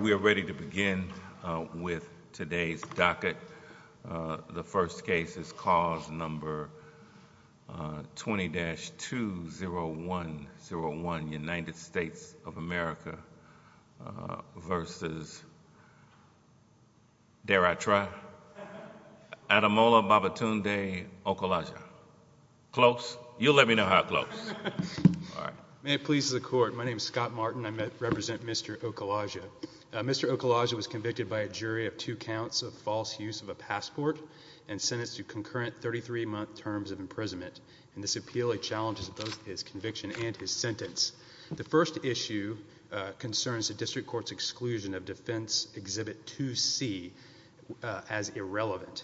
We are ready to begin with today's docket. The first case is cause number 20-20101, United States of America v. Adamola Babatunde Okulaja. Close? You'll let me know how close. May it please the Court. My name is Scott Martin. I represent Mr. Okulaja. Mr. Okulaja was convicted by a jury of two counts of false use of a passport and sentenced to concurrent 33-month terms of imprisonment. This appeal challenges both his conviction and his sentence. The first issue concerns the District Court's exclusion of Defense Exhibit 2C as irrelevant.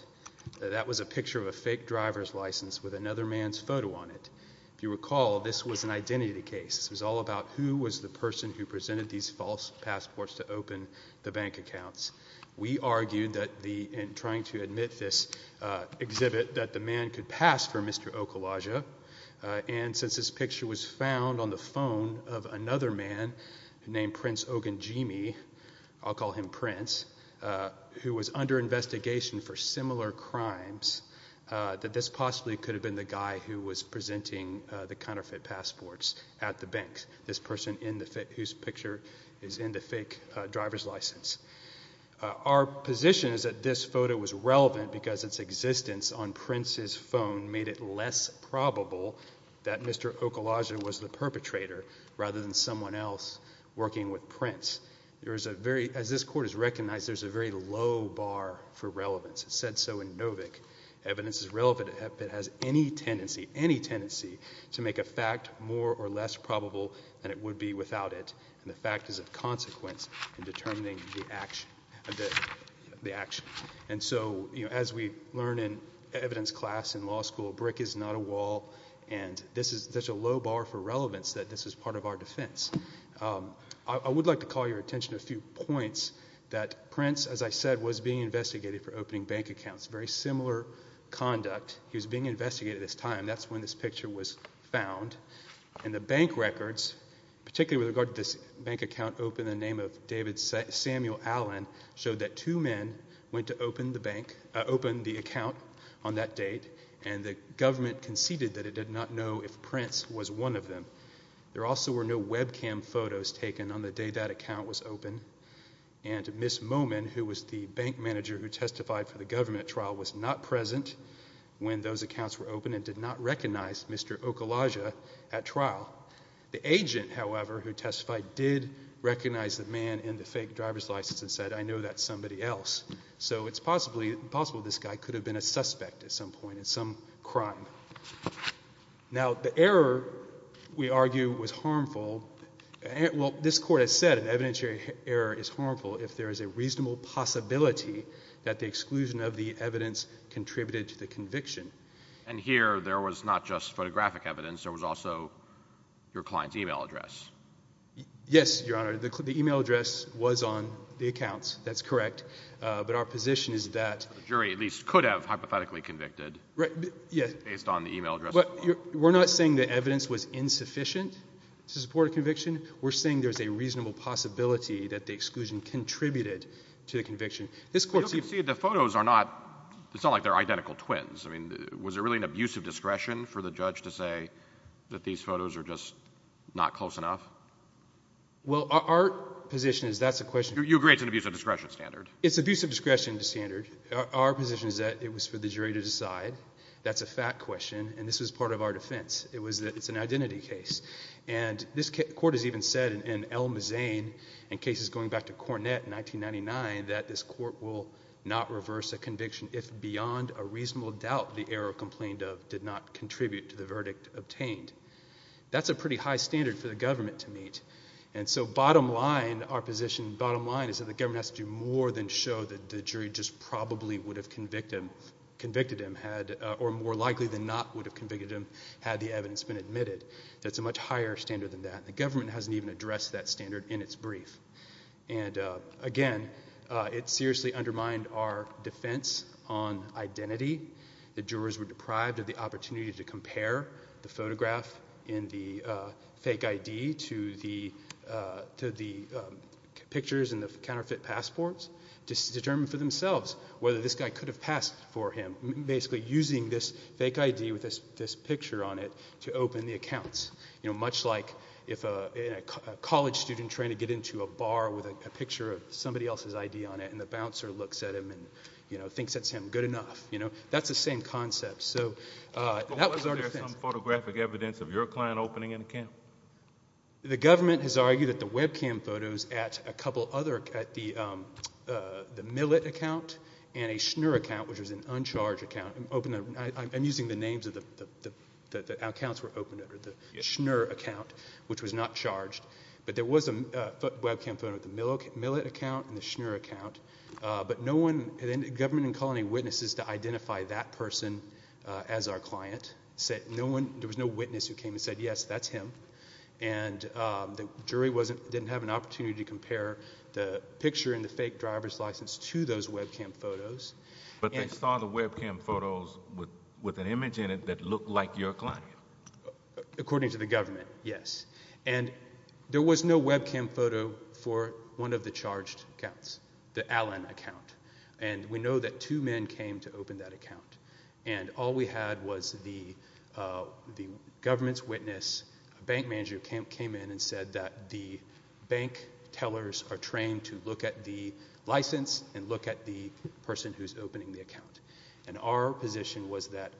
That was a picture of a fake driver's license with another man's photo on it. If you recall, this was an identity case. It was all about who was the person who presented these false passports to open the bank accounts. We argued that in trying to admit this exhibit that the man could pass for Mr. Okulaja, and since this picture was found on the phone of another man named Prince Ogunjimi, I'll call him Prince, who was under investigation for similar crimes, that this possibly could have been the guy who was presenting the counterfeit passports at the bank, this person whose picture is in the fake driver's license. Our position is that this photo was relevant because its existence on Prince's phone made it less probable that Mr. Okulaja was the perpetrator rather than someone else working with Prince. As this Court has recognized, there's a very low bar for relevance. It's said so in Novick. Evidence is relevant if it has any tendency to make a fact more or less probable than it would be without it, and the fact is of consequence in determining the action. And so, as we learn in evidence class in law school, brick is not a wall, and this is such a low bar for relevance that this is part of our defense. I would like to call your attention to a few points that Prince, as I said, was being investigated for opening bank accounts, very similar conduct. He was being investigated at this time. That's when this picture was found, and the bank records, particularly with regard to this bank account opened in 1993, with David Samuel Allen, showed that two men went to open the bank, open the account on that date, and the government conceded that it did not know if Prince was one of them. There also were no webcam photos taken on the day that account was opened, and Miss Momin, who was the bank manager who testified for the government trial, was not present when those accounts were opened and did not recognize Mr. Okulaja at trial. The agent, however, who testified did recognize the man in the fake driver's license and said, I know that's somebody else. So it's possible this guy could have been a suspect at some point in some crime. Now, the error, we argue, was harmful. Well, this Court has said an evidentiary error is harmful if there is a reasonable possibility that the exclusion of the evidence contributed to the conviction. And here, there was not just photographic evidence. There was also your client's e-mail address. Yes, Your Honor. The e-mail address was on the accounts. That's correct. But our position is that... The jury at least could have hypothetically convicted based on the e-mail address. We're not saying the evidence was insufficient to support a conviction. We're saying there's a reasonable possibility that the exclusion contributed to the conviction. The photos are not, it's not like they're just not close enough. Well, our position is that's a question... You agree it's an abuse of discretion standard. It's abuse of discretion standard. Our position is that it was for the jury to decide. That's a fact question. And this was part of our defense. It was that it's an identity case. And this Court has even said in L. Mazzane, in cases going back to Cornett in 1999, that this Court will not reverse a conviction if beyond a That's a pretty high standard for the government to meet. And so bottom line, our position, bottom line is that the government has to do more than show that the jury just probably would have convicted him, or more likely than not would have convicted him had the evidence been admitted. That's a much higher standard than that. The government hasn't even addressed that standard in its brief. And again, it seriously undermined our defense on identity. The jurors were deprived of the opportunity to compare the photograph and the fake ID to the pictures and the counterfeit passports to determine for themselves whether this guy could have passed for him, basically using this fake ID with this picture on it to open the accounts. You know, much like if a college student trying to get into a bar with a picture of somebody else's ID on it and the bouncer looks at him and, you know, thinks that's him, good enough. You know, that's the same concept. So that was our defense. But wasn't there some photographic evidence of your client opening an account? The government has argued that the webcam photos at a couple other, at the Millet account and a Schnur account, which was an uncharged account, I'm using the names of the accounts were opened, or the Schnur account, which was not charged. But there was a webcam photo at the Millet account and the Schnur account. But no one, the government didn't call any witnesses to identify that person as our client. There was no witness who came and said, yes, that's him. And the jury didn't have an opportunity to compare the picture and the fake driver's license to those webcam photos. But they saw the webcam photos with an image in it that looked like your client? According to the government, yes. And there was no webcam photo for one of the charged accounts, the Allen account. And we know that two men came to open that account. And all we had was the government's witness, a bank manager came in and said that the bank tellers are trained to look at the license and look at the person who's opening the account. And our position was that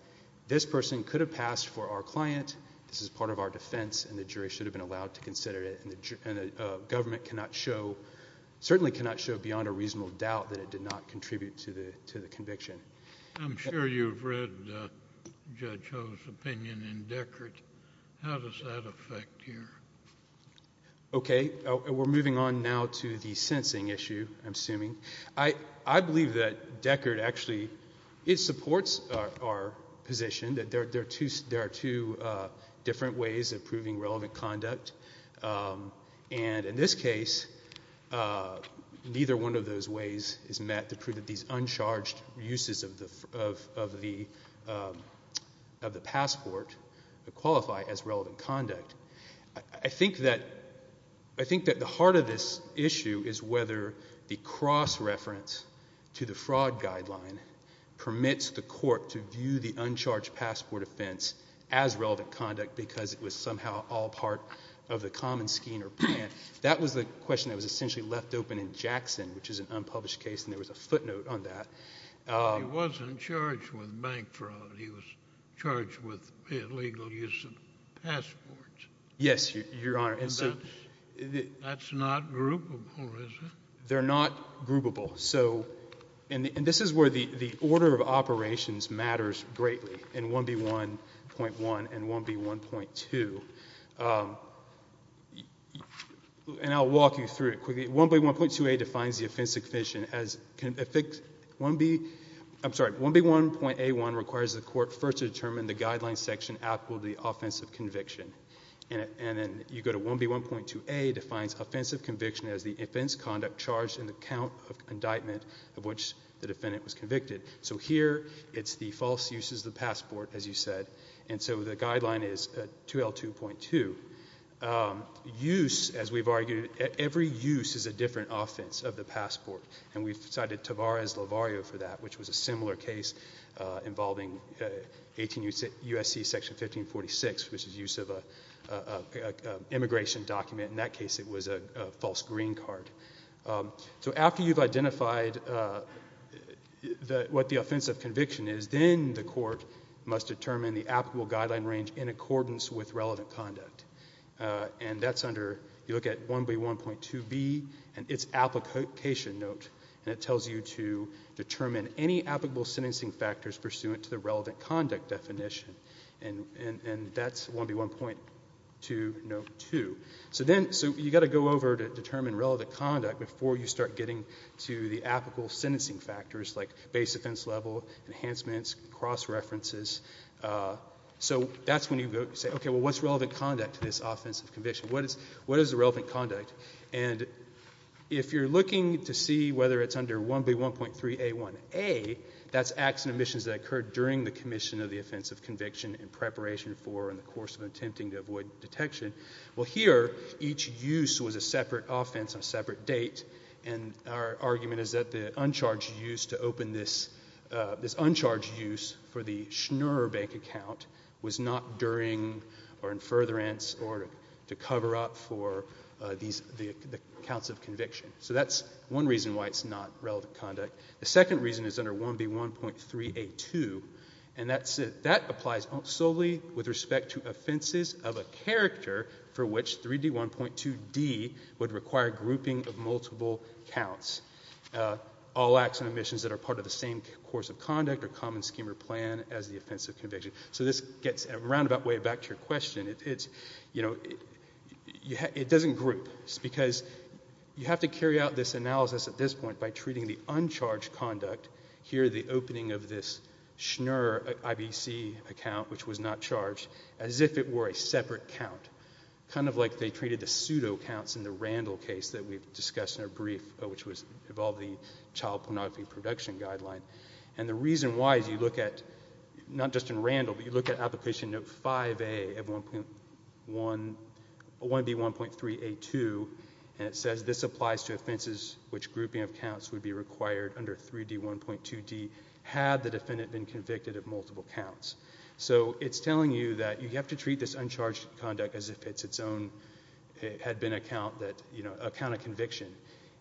this person could have passed for our client, this is part of our defense, and the jury should have been allowed to consider it. And the government cannot show, certainly cannot show beyond a reasonable doubt that it did not contribute to the conviction. I'm sure you've read Judge Ho's opinion in Deckard. How does that affect you? Okay. We're moving on now to the sensing issue, I'm assuming. I believe that Deckard actually supports our position that there are two different ways of proving relevant conduct. And in this case, neither one of those ways is met to prove that these uncharged uses of the passport qualify as relevant conduct. I think that the heart of this issue is whether the cross-reference to the fraud guideline permits the court to view the uncharged passport offense as relevant conduct because it was somehow all part of the common scheme or plan. That was the question that was essentially left open in Jackson, which is an unpublished case, and there was a footnote on that. He wasn't charged with bank fraud, he was charged with illegal use of passports. Yes, so, and this is where the order of operations matters greatly in 1B1.1 and 1B1.2. And I'll walk you through it quickly. 1B1.2a defines the offense of conviction as, I'm sorry, 1B1.a1 requires the court first to determine the guideline section applicable to the offense of conviction. And then you go to 1B1.2a defines offense of conviction as the offense conduct charged in the count of indictment of which the defendant was convicted. So here, it's the false uses of the passport, as you said. And so the guideline is 2L2.2. Use, as we've argued, every use is a different offense of the passport. And we've cited Tavares-Lavario for that, which was a similar case involving 18 U.S.C. Section 1546, which is use of an immigration document. In that case, it was a false green card. So after you've identified what the offense of conviction is, then the court must determine the applicable guideline range in accordance with relevant conduct. And that's under, you look at 1B1.2b and its application note. And it tells you to determine any applicable sentencing factors pursuant to the relevant conduct definition. And that's 1B1.2 note 2. So then, so you've got to go over to determine relevant conduct before you start getting to the applicable sentencing factors, like base offense level, enhancements, cross-references. So that's when you say, okay, well, what's relevant conduct to this offense of conviction? What is the relevant conduct? And if you're looking to see whether it's under 1B1.3a1a, that's acts and omissions that occurred during the commission of the offense of conviction in preparation for, in the course of attempting to avoid detection. Well, here, each use was a separate offense on a separate date. And our argument is that the uncharged use to open this, this uncharged use for the Schnurr bank account was not during or in furtherance or to cover up for these, the counts of conviction. So that's one reason why it's not relevant conduct. The second reason is under 1B1.3a2. And that's it. That applies solely with respect to offenses of a character for which 3D1.2d would require grouping of multiple counts. All acts and omissions that are part of the same course of conduct or common scheme or plan as the offense of conviction. So this gets a roundabout way back to your question. It's, you know, it doesn't group. It's because you have to carry out this analysis at this point by treating the uncharged conduct, here the opening of this Schnurr IBC account, which was not charged, as if it were a separate count. Kind of like they treated the pseudo counts in the Randall case that we've discussed in our brief, which was, involved the child pornography production guideline. And the reason why is you look at, not just in Randall, but you look at application note 5A of 1B1.3a2 and it says this applies to offenses which grouping of counts would be required under 3D1.2d had the defendant been convicted of multiple counts. So it's telling you that you have to treat this uncharged conduct as if it's its own, had been a count that, you know, a count of conviction.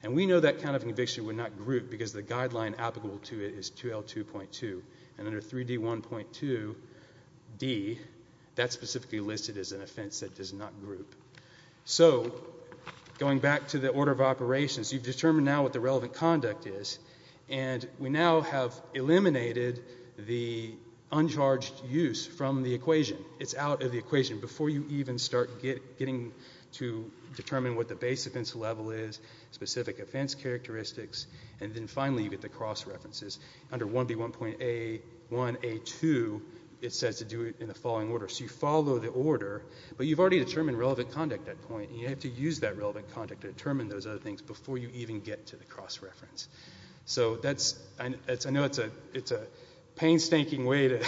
And we know that count of conviction would not group because the guideline applicable to it is 2L2.2. And under 3D1.2d, that's specifically listed as an offense that does not group. So, going back to the order of operations, you've determined now what the relevant conduct is, and we now have eliminated the uncharged use from the equation. It's out of the equation before you even start getting to determine what the base offense level is, specific offense characteristics, and then finally you get the cross-references. Under 1B1.a1a2, it says to do it in the following order. So you follow the order, but you've already determined relevant conduct at that point, and you have to use that relevant conduct to determine those other things before you even get to the cross-reference. So that's, I know it's a painstaking way to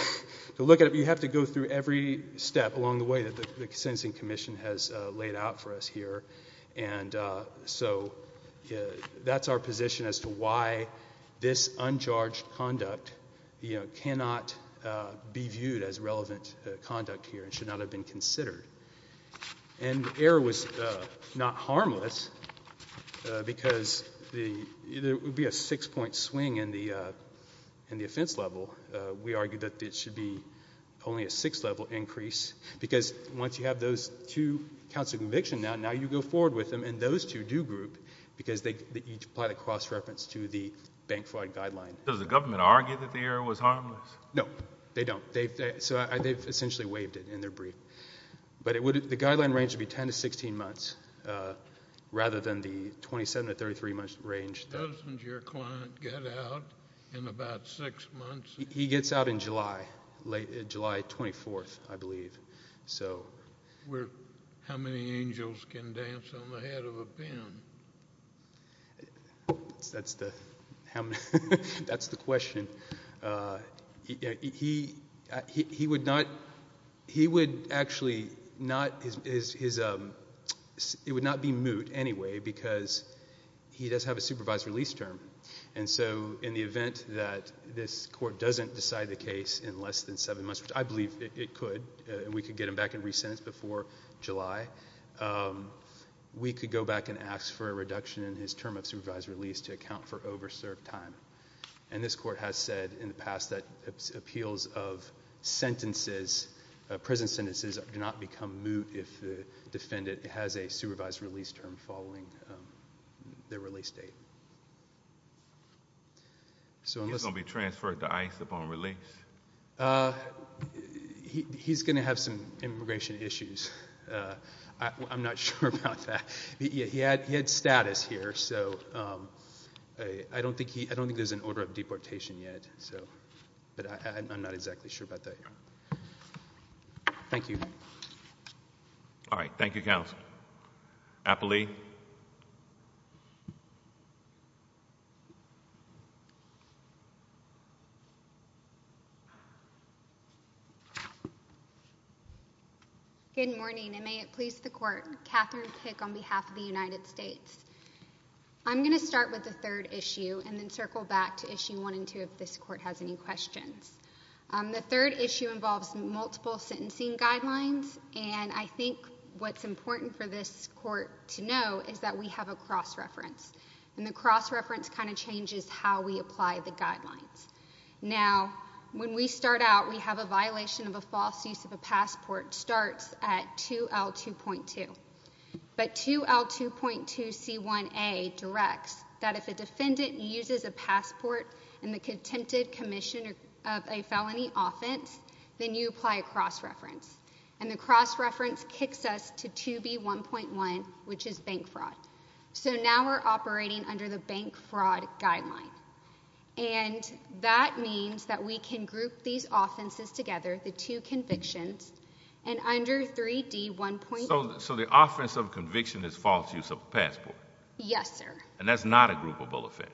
look at it, but you have to go through every step along the way that the sentencing commission has laid out for us here. And so that's our position as to why this uncharged conduct cannot be viewed as relevant conduct here and should not have been considered. And error was not harmless, because there would be a six-point swing in the offense level. We argue that it should be only a six-level increase, because once you have those two counts of conviction, now you go forward with them, and those two counts are a do-group, because they each apply the cross-reference to the bank fraud guideline. Does the government argue that the error was harmless? No, they don't. They've essentially waived it in their brief. But the guideline range would be 10 to 16 months, rather than the 27 to 33-month range. Doesn't your client get out in about six months? He gets out in July, July 24th, I believe. How many angels can dance on the head of a pimp? That's the question. He would actually not, it would not be moot anyway, because he does have a supervised release term. And so in the event that this court doesn't decide the case in less than seven months, which I believe it could, we could get him back and re-sentence before July. We could go back and ask for a reduction in his term of supervised release to account for over-served time. And this court has said in the past that appeals of sentences, prison sentences, do not become moot if the defendant has a supervised release term following their release date. He's going to be transferred to ICE upon release? He's going to have some immigration issues. I'm not sure about that. He had status here, so I don't think there's an order of deportation yet. But I'm not exactly sure about that. Thank you. All right. Thank you, counsel. Apolli? Good morning, and may it please the Court. Katherine Pick on behalf of the United States. I'm going to start with the third issue and then circle back to issue one and two if this Court has any questions. The third issue involves multiple sentencing guidelines, and I think what's important for this Court to know is that we have a cross-reference. And the cross-reference kind of changes how we apply the guidelines. Now, when we start out, we have a violation of a false use of a passport starts at 2L2.2. But 2L2.2C1A directs that if a defendant uses a passport in the contempted commission of a felony offense, then you apply a cross-reference. And the cross-reference kicks us to 2B1.1, which is bank fraud. So now we're operating under the bank fraud guideline. And that means that we can group these offenses together, the two convictions, and under 3D1.2. So the offense of conviction is false use of a passport? Yes, sir. And that's not a groupable offense?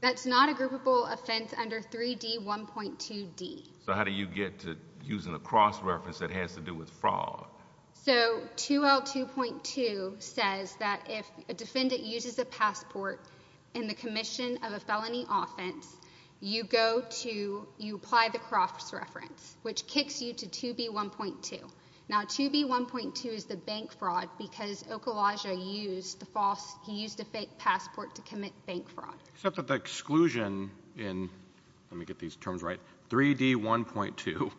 That's not a groupable offense under 3D1.2D. So how do you get to using a cross-reference that has to do with fraud? So 2L2.2 says that if a defendant uses a passport in the commission of a felony offense, you apply the cross-reference, which kicks you to 2B1.2. Now, 2B1.2 is the bank fraud because Okolaja used a fake passport to commit bank fraud. Except that the exclusion in 3D1.2,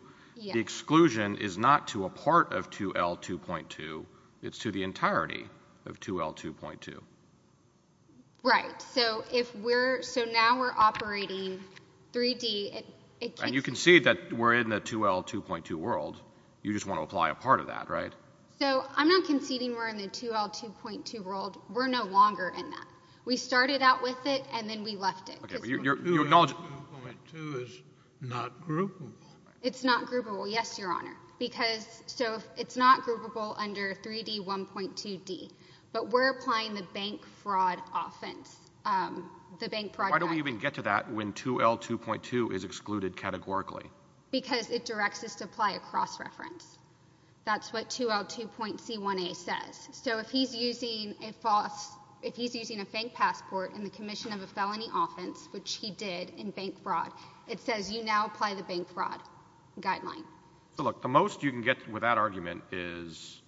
the exclusion is not to a part of 2L2.2, it's to the entirety of 2L2.2. Right. So now we're operating 3D. And you can see that we're in the 2L2.2 world. You just want to apply a part of that, right? So I'm not conceding we're in the 2L2.2 world. We're no longer in that. We started out with it and then we left it. 2L2.2 is not groupable. It's not groupable, yes, Your Honor. Because so it's not groupable under 3D1.2D. But we're applying the bank fraud offense. The bank fraud. Why do we even get to that when 2L2.2 is excluded categorically? Because it directs us to apply a cross-reference. That's what 2L2.C1A says. So if he's using a fake passport in the commission of a felony offense, which he did in bank fraud, it says you now apply the bank fraud guideline. So look, the most you can get with that argument is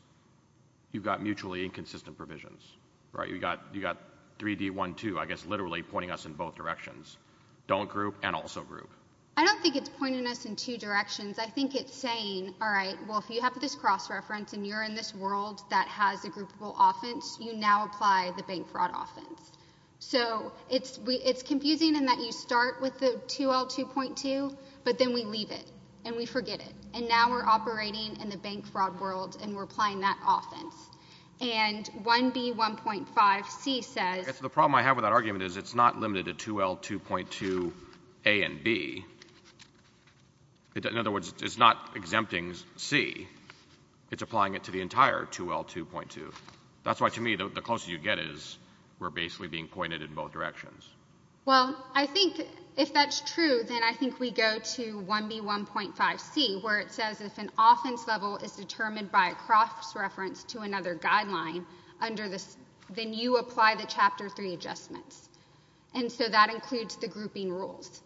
you've got 3D1.2, I guess, literally pointing us in both directions. Don't group and also group. I don't think it's pointing us in two directions. I think it's saying, all right, well, if you have this cross-reference and you're in this world that has a groupable offense, you now apply the bank fraud offense. So it's confusing in that you start with the 2L2.2, but then we leave it and we forget it. And now we're operating in the bank fraud world and we're in the bank fraud world. So the problem I have with that argument is it's not limited to 2L2.2A and B. In other words, it's not exempting C. It's applying it to the entire 2L2.2. That's why, to me, the closest you get is we're basically being pointed in both directions. Well, I think if that's true, then I think we go to 1B1.5C, where it says if an offense level is determined by a cross-reference to another guideline, then you apply the check for Chapter 3 adjustments. And so that includes the grouping rules.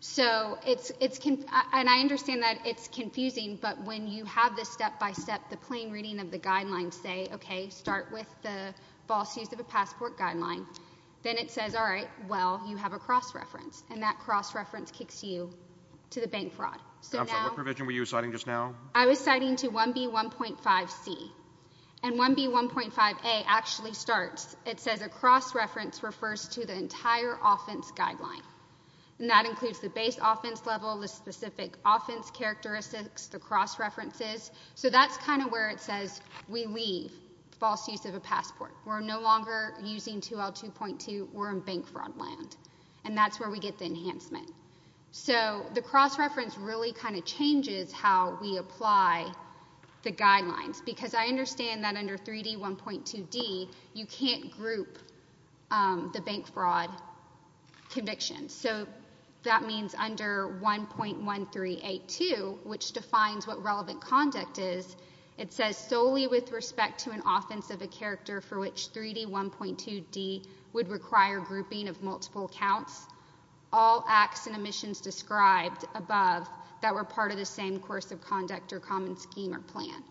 So it's, and I understand that it's confusing, but when you have this step-by-step, the plain reading of the guidelines say, okay, start with the false use of a passport guideline, then it says, all right, well, you have a cross-reference. And that cross-reference kicks you to the bank fraud. I'm sorry, what provision were you citing just now? I was citing to 1B1.5C. And 1B1.5A actually starts. It says a cross-reference refers to the entire offense guideline. And that includes the base offense level, the specific offense characteristics, the cross-references. So that's kind of where it says we leave false use of a passport. We're no longer using 2L2.2. We're in bank fraud land. And that's where we get the enhancement. So the cross-reference really kind of changes how we apply the guidelines. Because I understand that under 3D1.2D, you can't group the bank fraud convictions. So that means under 1.1382, which defines what relevant conduct is, it says solely with respect to an offense of a character for which 3D1.2D would require grouping of multiple counts, all acts and omissions described above that were part of the same course of conduct or common scheme or plan.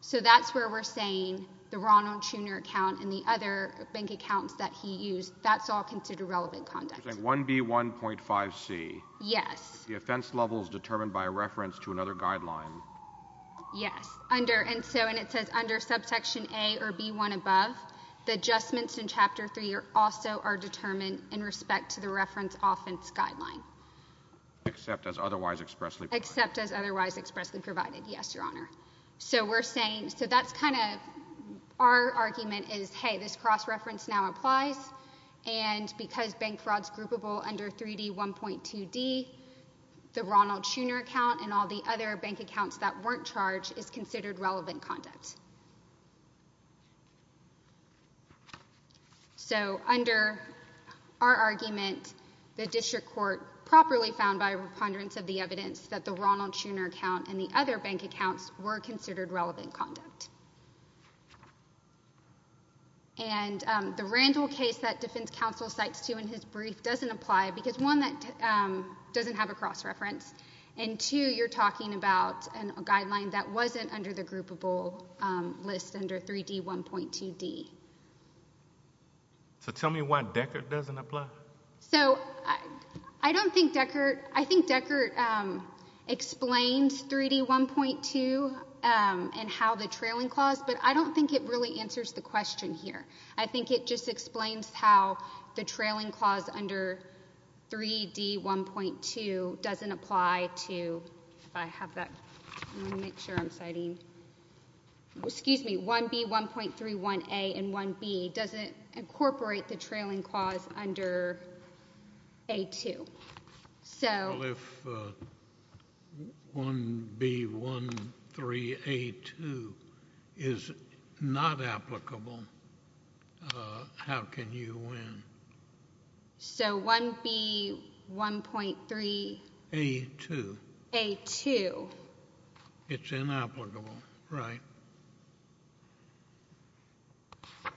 So that's where we're saying the Ronald Jr. account and the other bank accounts that he used, that's all considered relevant conduct. You're saying 1B1.5C. Yes. If the offense level is determined by a reference to another guideline. Yes. And it says under subsection A or B1 above, the adjustments in Chapter 3 also are determined in respect to the reference offense guideline. Except as otherwise expressly provided. Except as otherwise expressly provided. Yes, Your Honor. So we're saying, so that's kind of our argument is, hey, this cross-reference now applies. And because bank fraud's groupable under 3D1.2D, the Ronald Jr. account and all the other bank accounts that weren't charged is considered relevant conduct. So under our argument, the district court properly found by a preponderance of the evidence that the Ronald Jr. account and the other bank accounts were considered relevant conduct. And the Randall case that defense counsel cites too in his brief doesn't apply. Because one, that doesn't have a cross-reference. And two, you're talking about a guideline that wasn't under the groupable list under 3D1.2D. So tell me why Deckert doesn't apply. So I don't think Deckert, I think Deckert explains 3D1.2 and how the trailing clause, but I don't think it really answers the question here. I think it just explains how the trailing clause under 3D1.2 doesn't apply to, if I have that, let me make sure I'm citing, excuse me, 1B1.31A and 1B doesn't incorporate the trailing clause under A2. Well, if 1B1.3A2 is not applicable, how can you win? So 1B1.3A2. It's inapplicable, right.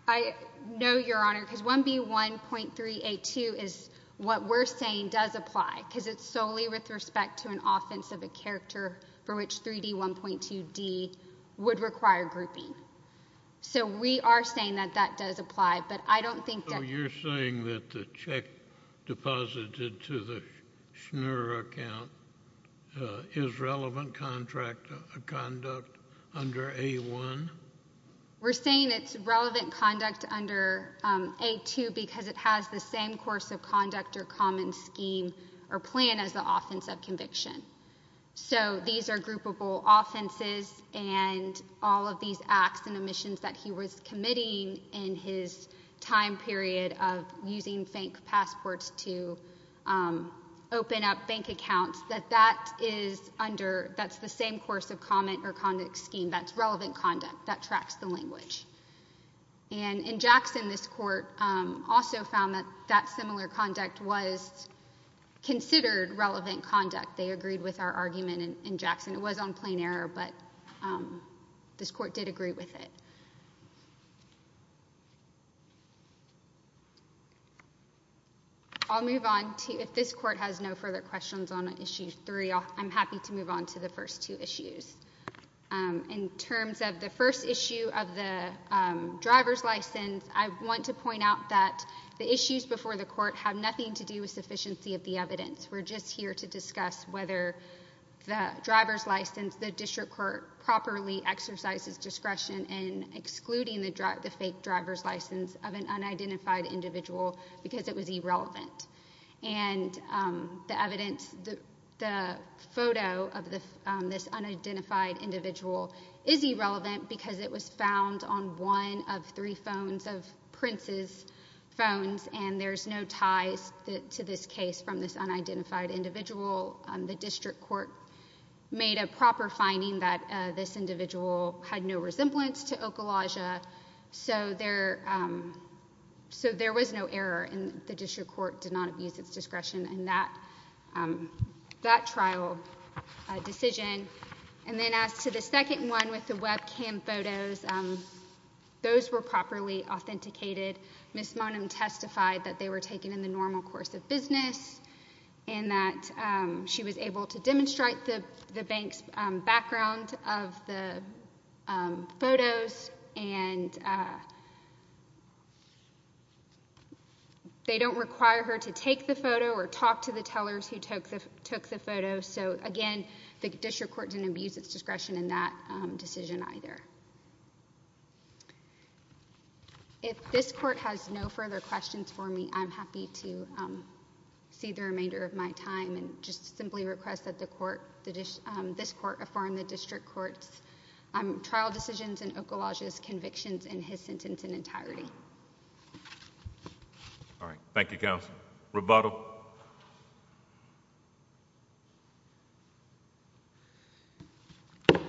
I know, Your Honor, because 1B1.3A2 is what we're saying does apply, because it's solely with respect to an offense of a character for which 3D1.2D would require grouping. So we are saying that that does apply, but I don't think that So you're saying that the check deposited to the Schnurr account is relevant conduct under A1? We're saying it's relevant conduct under A2 because it has the same course of conduct or common scheme or plan as the offense of conviction. So these are groupable offenses and all of these acts and omissions that he was committing in his time period of using bank passports to open up bank accounts, that that is under, that's the same course of comment or conduct scheme. That's relevant conduct that tracks the language. And in Jackson, this Court also found that that similar conduct was considered relevant conduct. They agreed with our argument in Jackson. It was on plain error, but this Court did agree with it. I'll move on to, if this Court has no further questions on Issue 3, I'm happy to move on to the first two issues. In terms of the first issue of the driver's license, I want to point out that the issues before the Court have nothing to do with sufficiency of the evidence. We're just here to discuss whether the driver's license, the District Court, properly exercises discretion in excluding the fake driver's license of an unidentified individual because it was irrelevant. And the evidence, the photo of this unidentified individual is irrelevant because it was found on one of three phones of Prince's phones and there's no ties to this case from this unidentified individual. The District Court made a proper finding that this individual had no resemblance to Okolaja, so there was no error and the District Court did not abuse its discretion in that trial decision. And then as to the second one with the webcam photos, those were properly authenticated. Ms. Monum testified that they were taken in the normal course of business and that she was able to demonstrate the bank's background of the photos and they don't require her to take the photo or talk to the tellers who took the photos. So, again, the District Court didn't abuse its discretion in that decision either. If this Court has no further questions for me, I'm happy to see the remainder of my time and just simply request that this Court affirm the District Court's trial decisions and Okolaja's convictions in his sentence in entirety. All right. Thank you, Counsel. Roboto.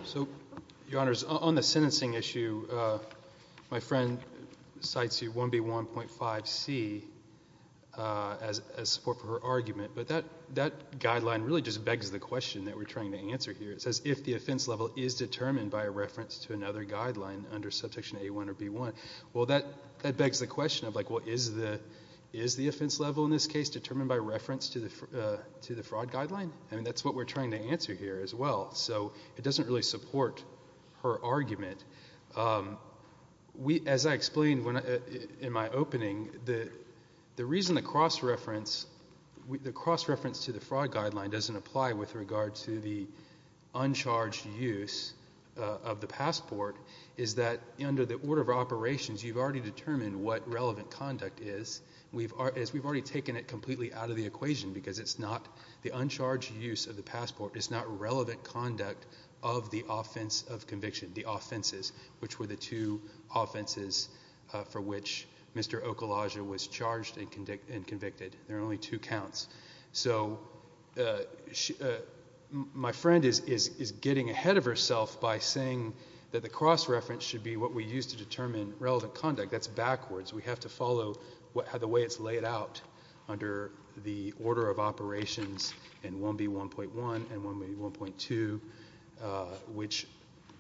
So, Your Honors, on the sentencing issue, my friend cites 1B1.5C as support for her argument, but that guideline really just begs the question that we're trying to answer here. It says, if the offense level is determined by a reference to another guideline under Subsection A1 or B1, well, that begs the question of, like, well, is the offense level in this case determined by reference to the fraud guideline? I mean, that's what we're trying to answer here as well. So it doesn't really support her argument. As I explained in my opening, the reason the cross-reference to the fraud guideline doesn't apply with regard to the uncharged use of the passport is that under the order of operations, you've already determined what relevant conduct is. We've already taken it completely out of the equation because it's not the uncharged use of the passport is not relevant conduct of the offense of conviction, the offenses, which were the two offenses for which Mr. Okolaja was charged and convicted. There are only two counts. So my friend is getting ahead of herself by saying that the cross-reference should be what we use to determine relevant conduct. That's backwards. We have to follow the way it's laid out under the order of operations in 1B1.1 and 1B1.2, which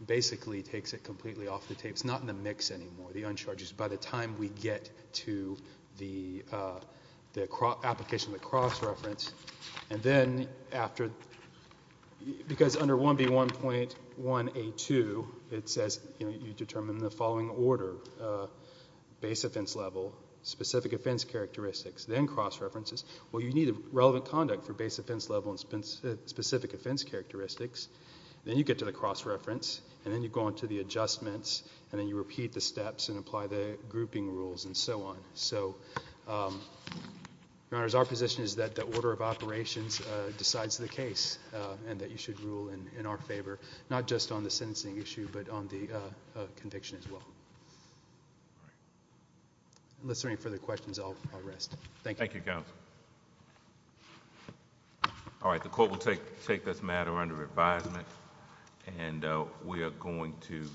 basically takes it completely off the tapes, not in the mix anymore, the uncharged use, by the time we get to the application of the cross-reference. Because under 1B1.1A2, it says you determine the following order, base offense level, specific offense characteristics, then cross-references. Well, you need a relevant conduct for base offense level and specific offense characteristics. Then you get to the cross-reference, and then you go on to the adjustments, and then you repeat the steps and apply the grouping rules and so on. So, Your Honors, our position is that the order of operations decides the case, and that you should rule in our favor, not just on the sentencing issue, but on the conviction as well. Unless there are any further questions, I'll rest. Thank you. Thank you, counsel. All right, the court will take this matter under advisement, and we are going to.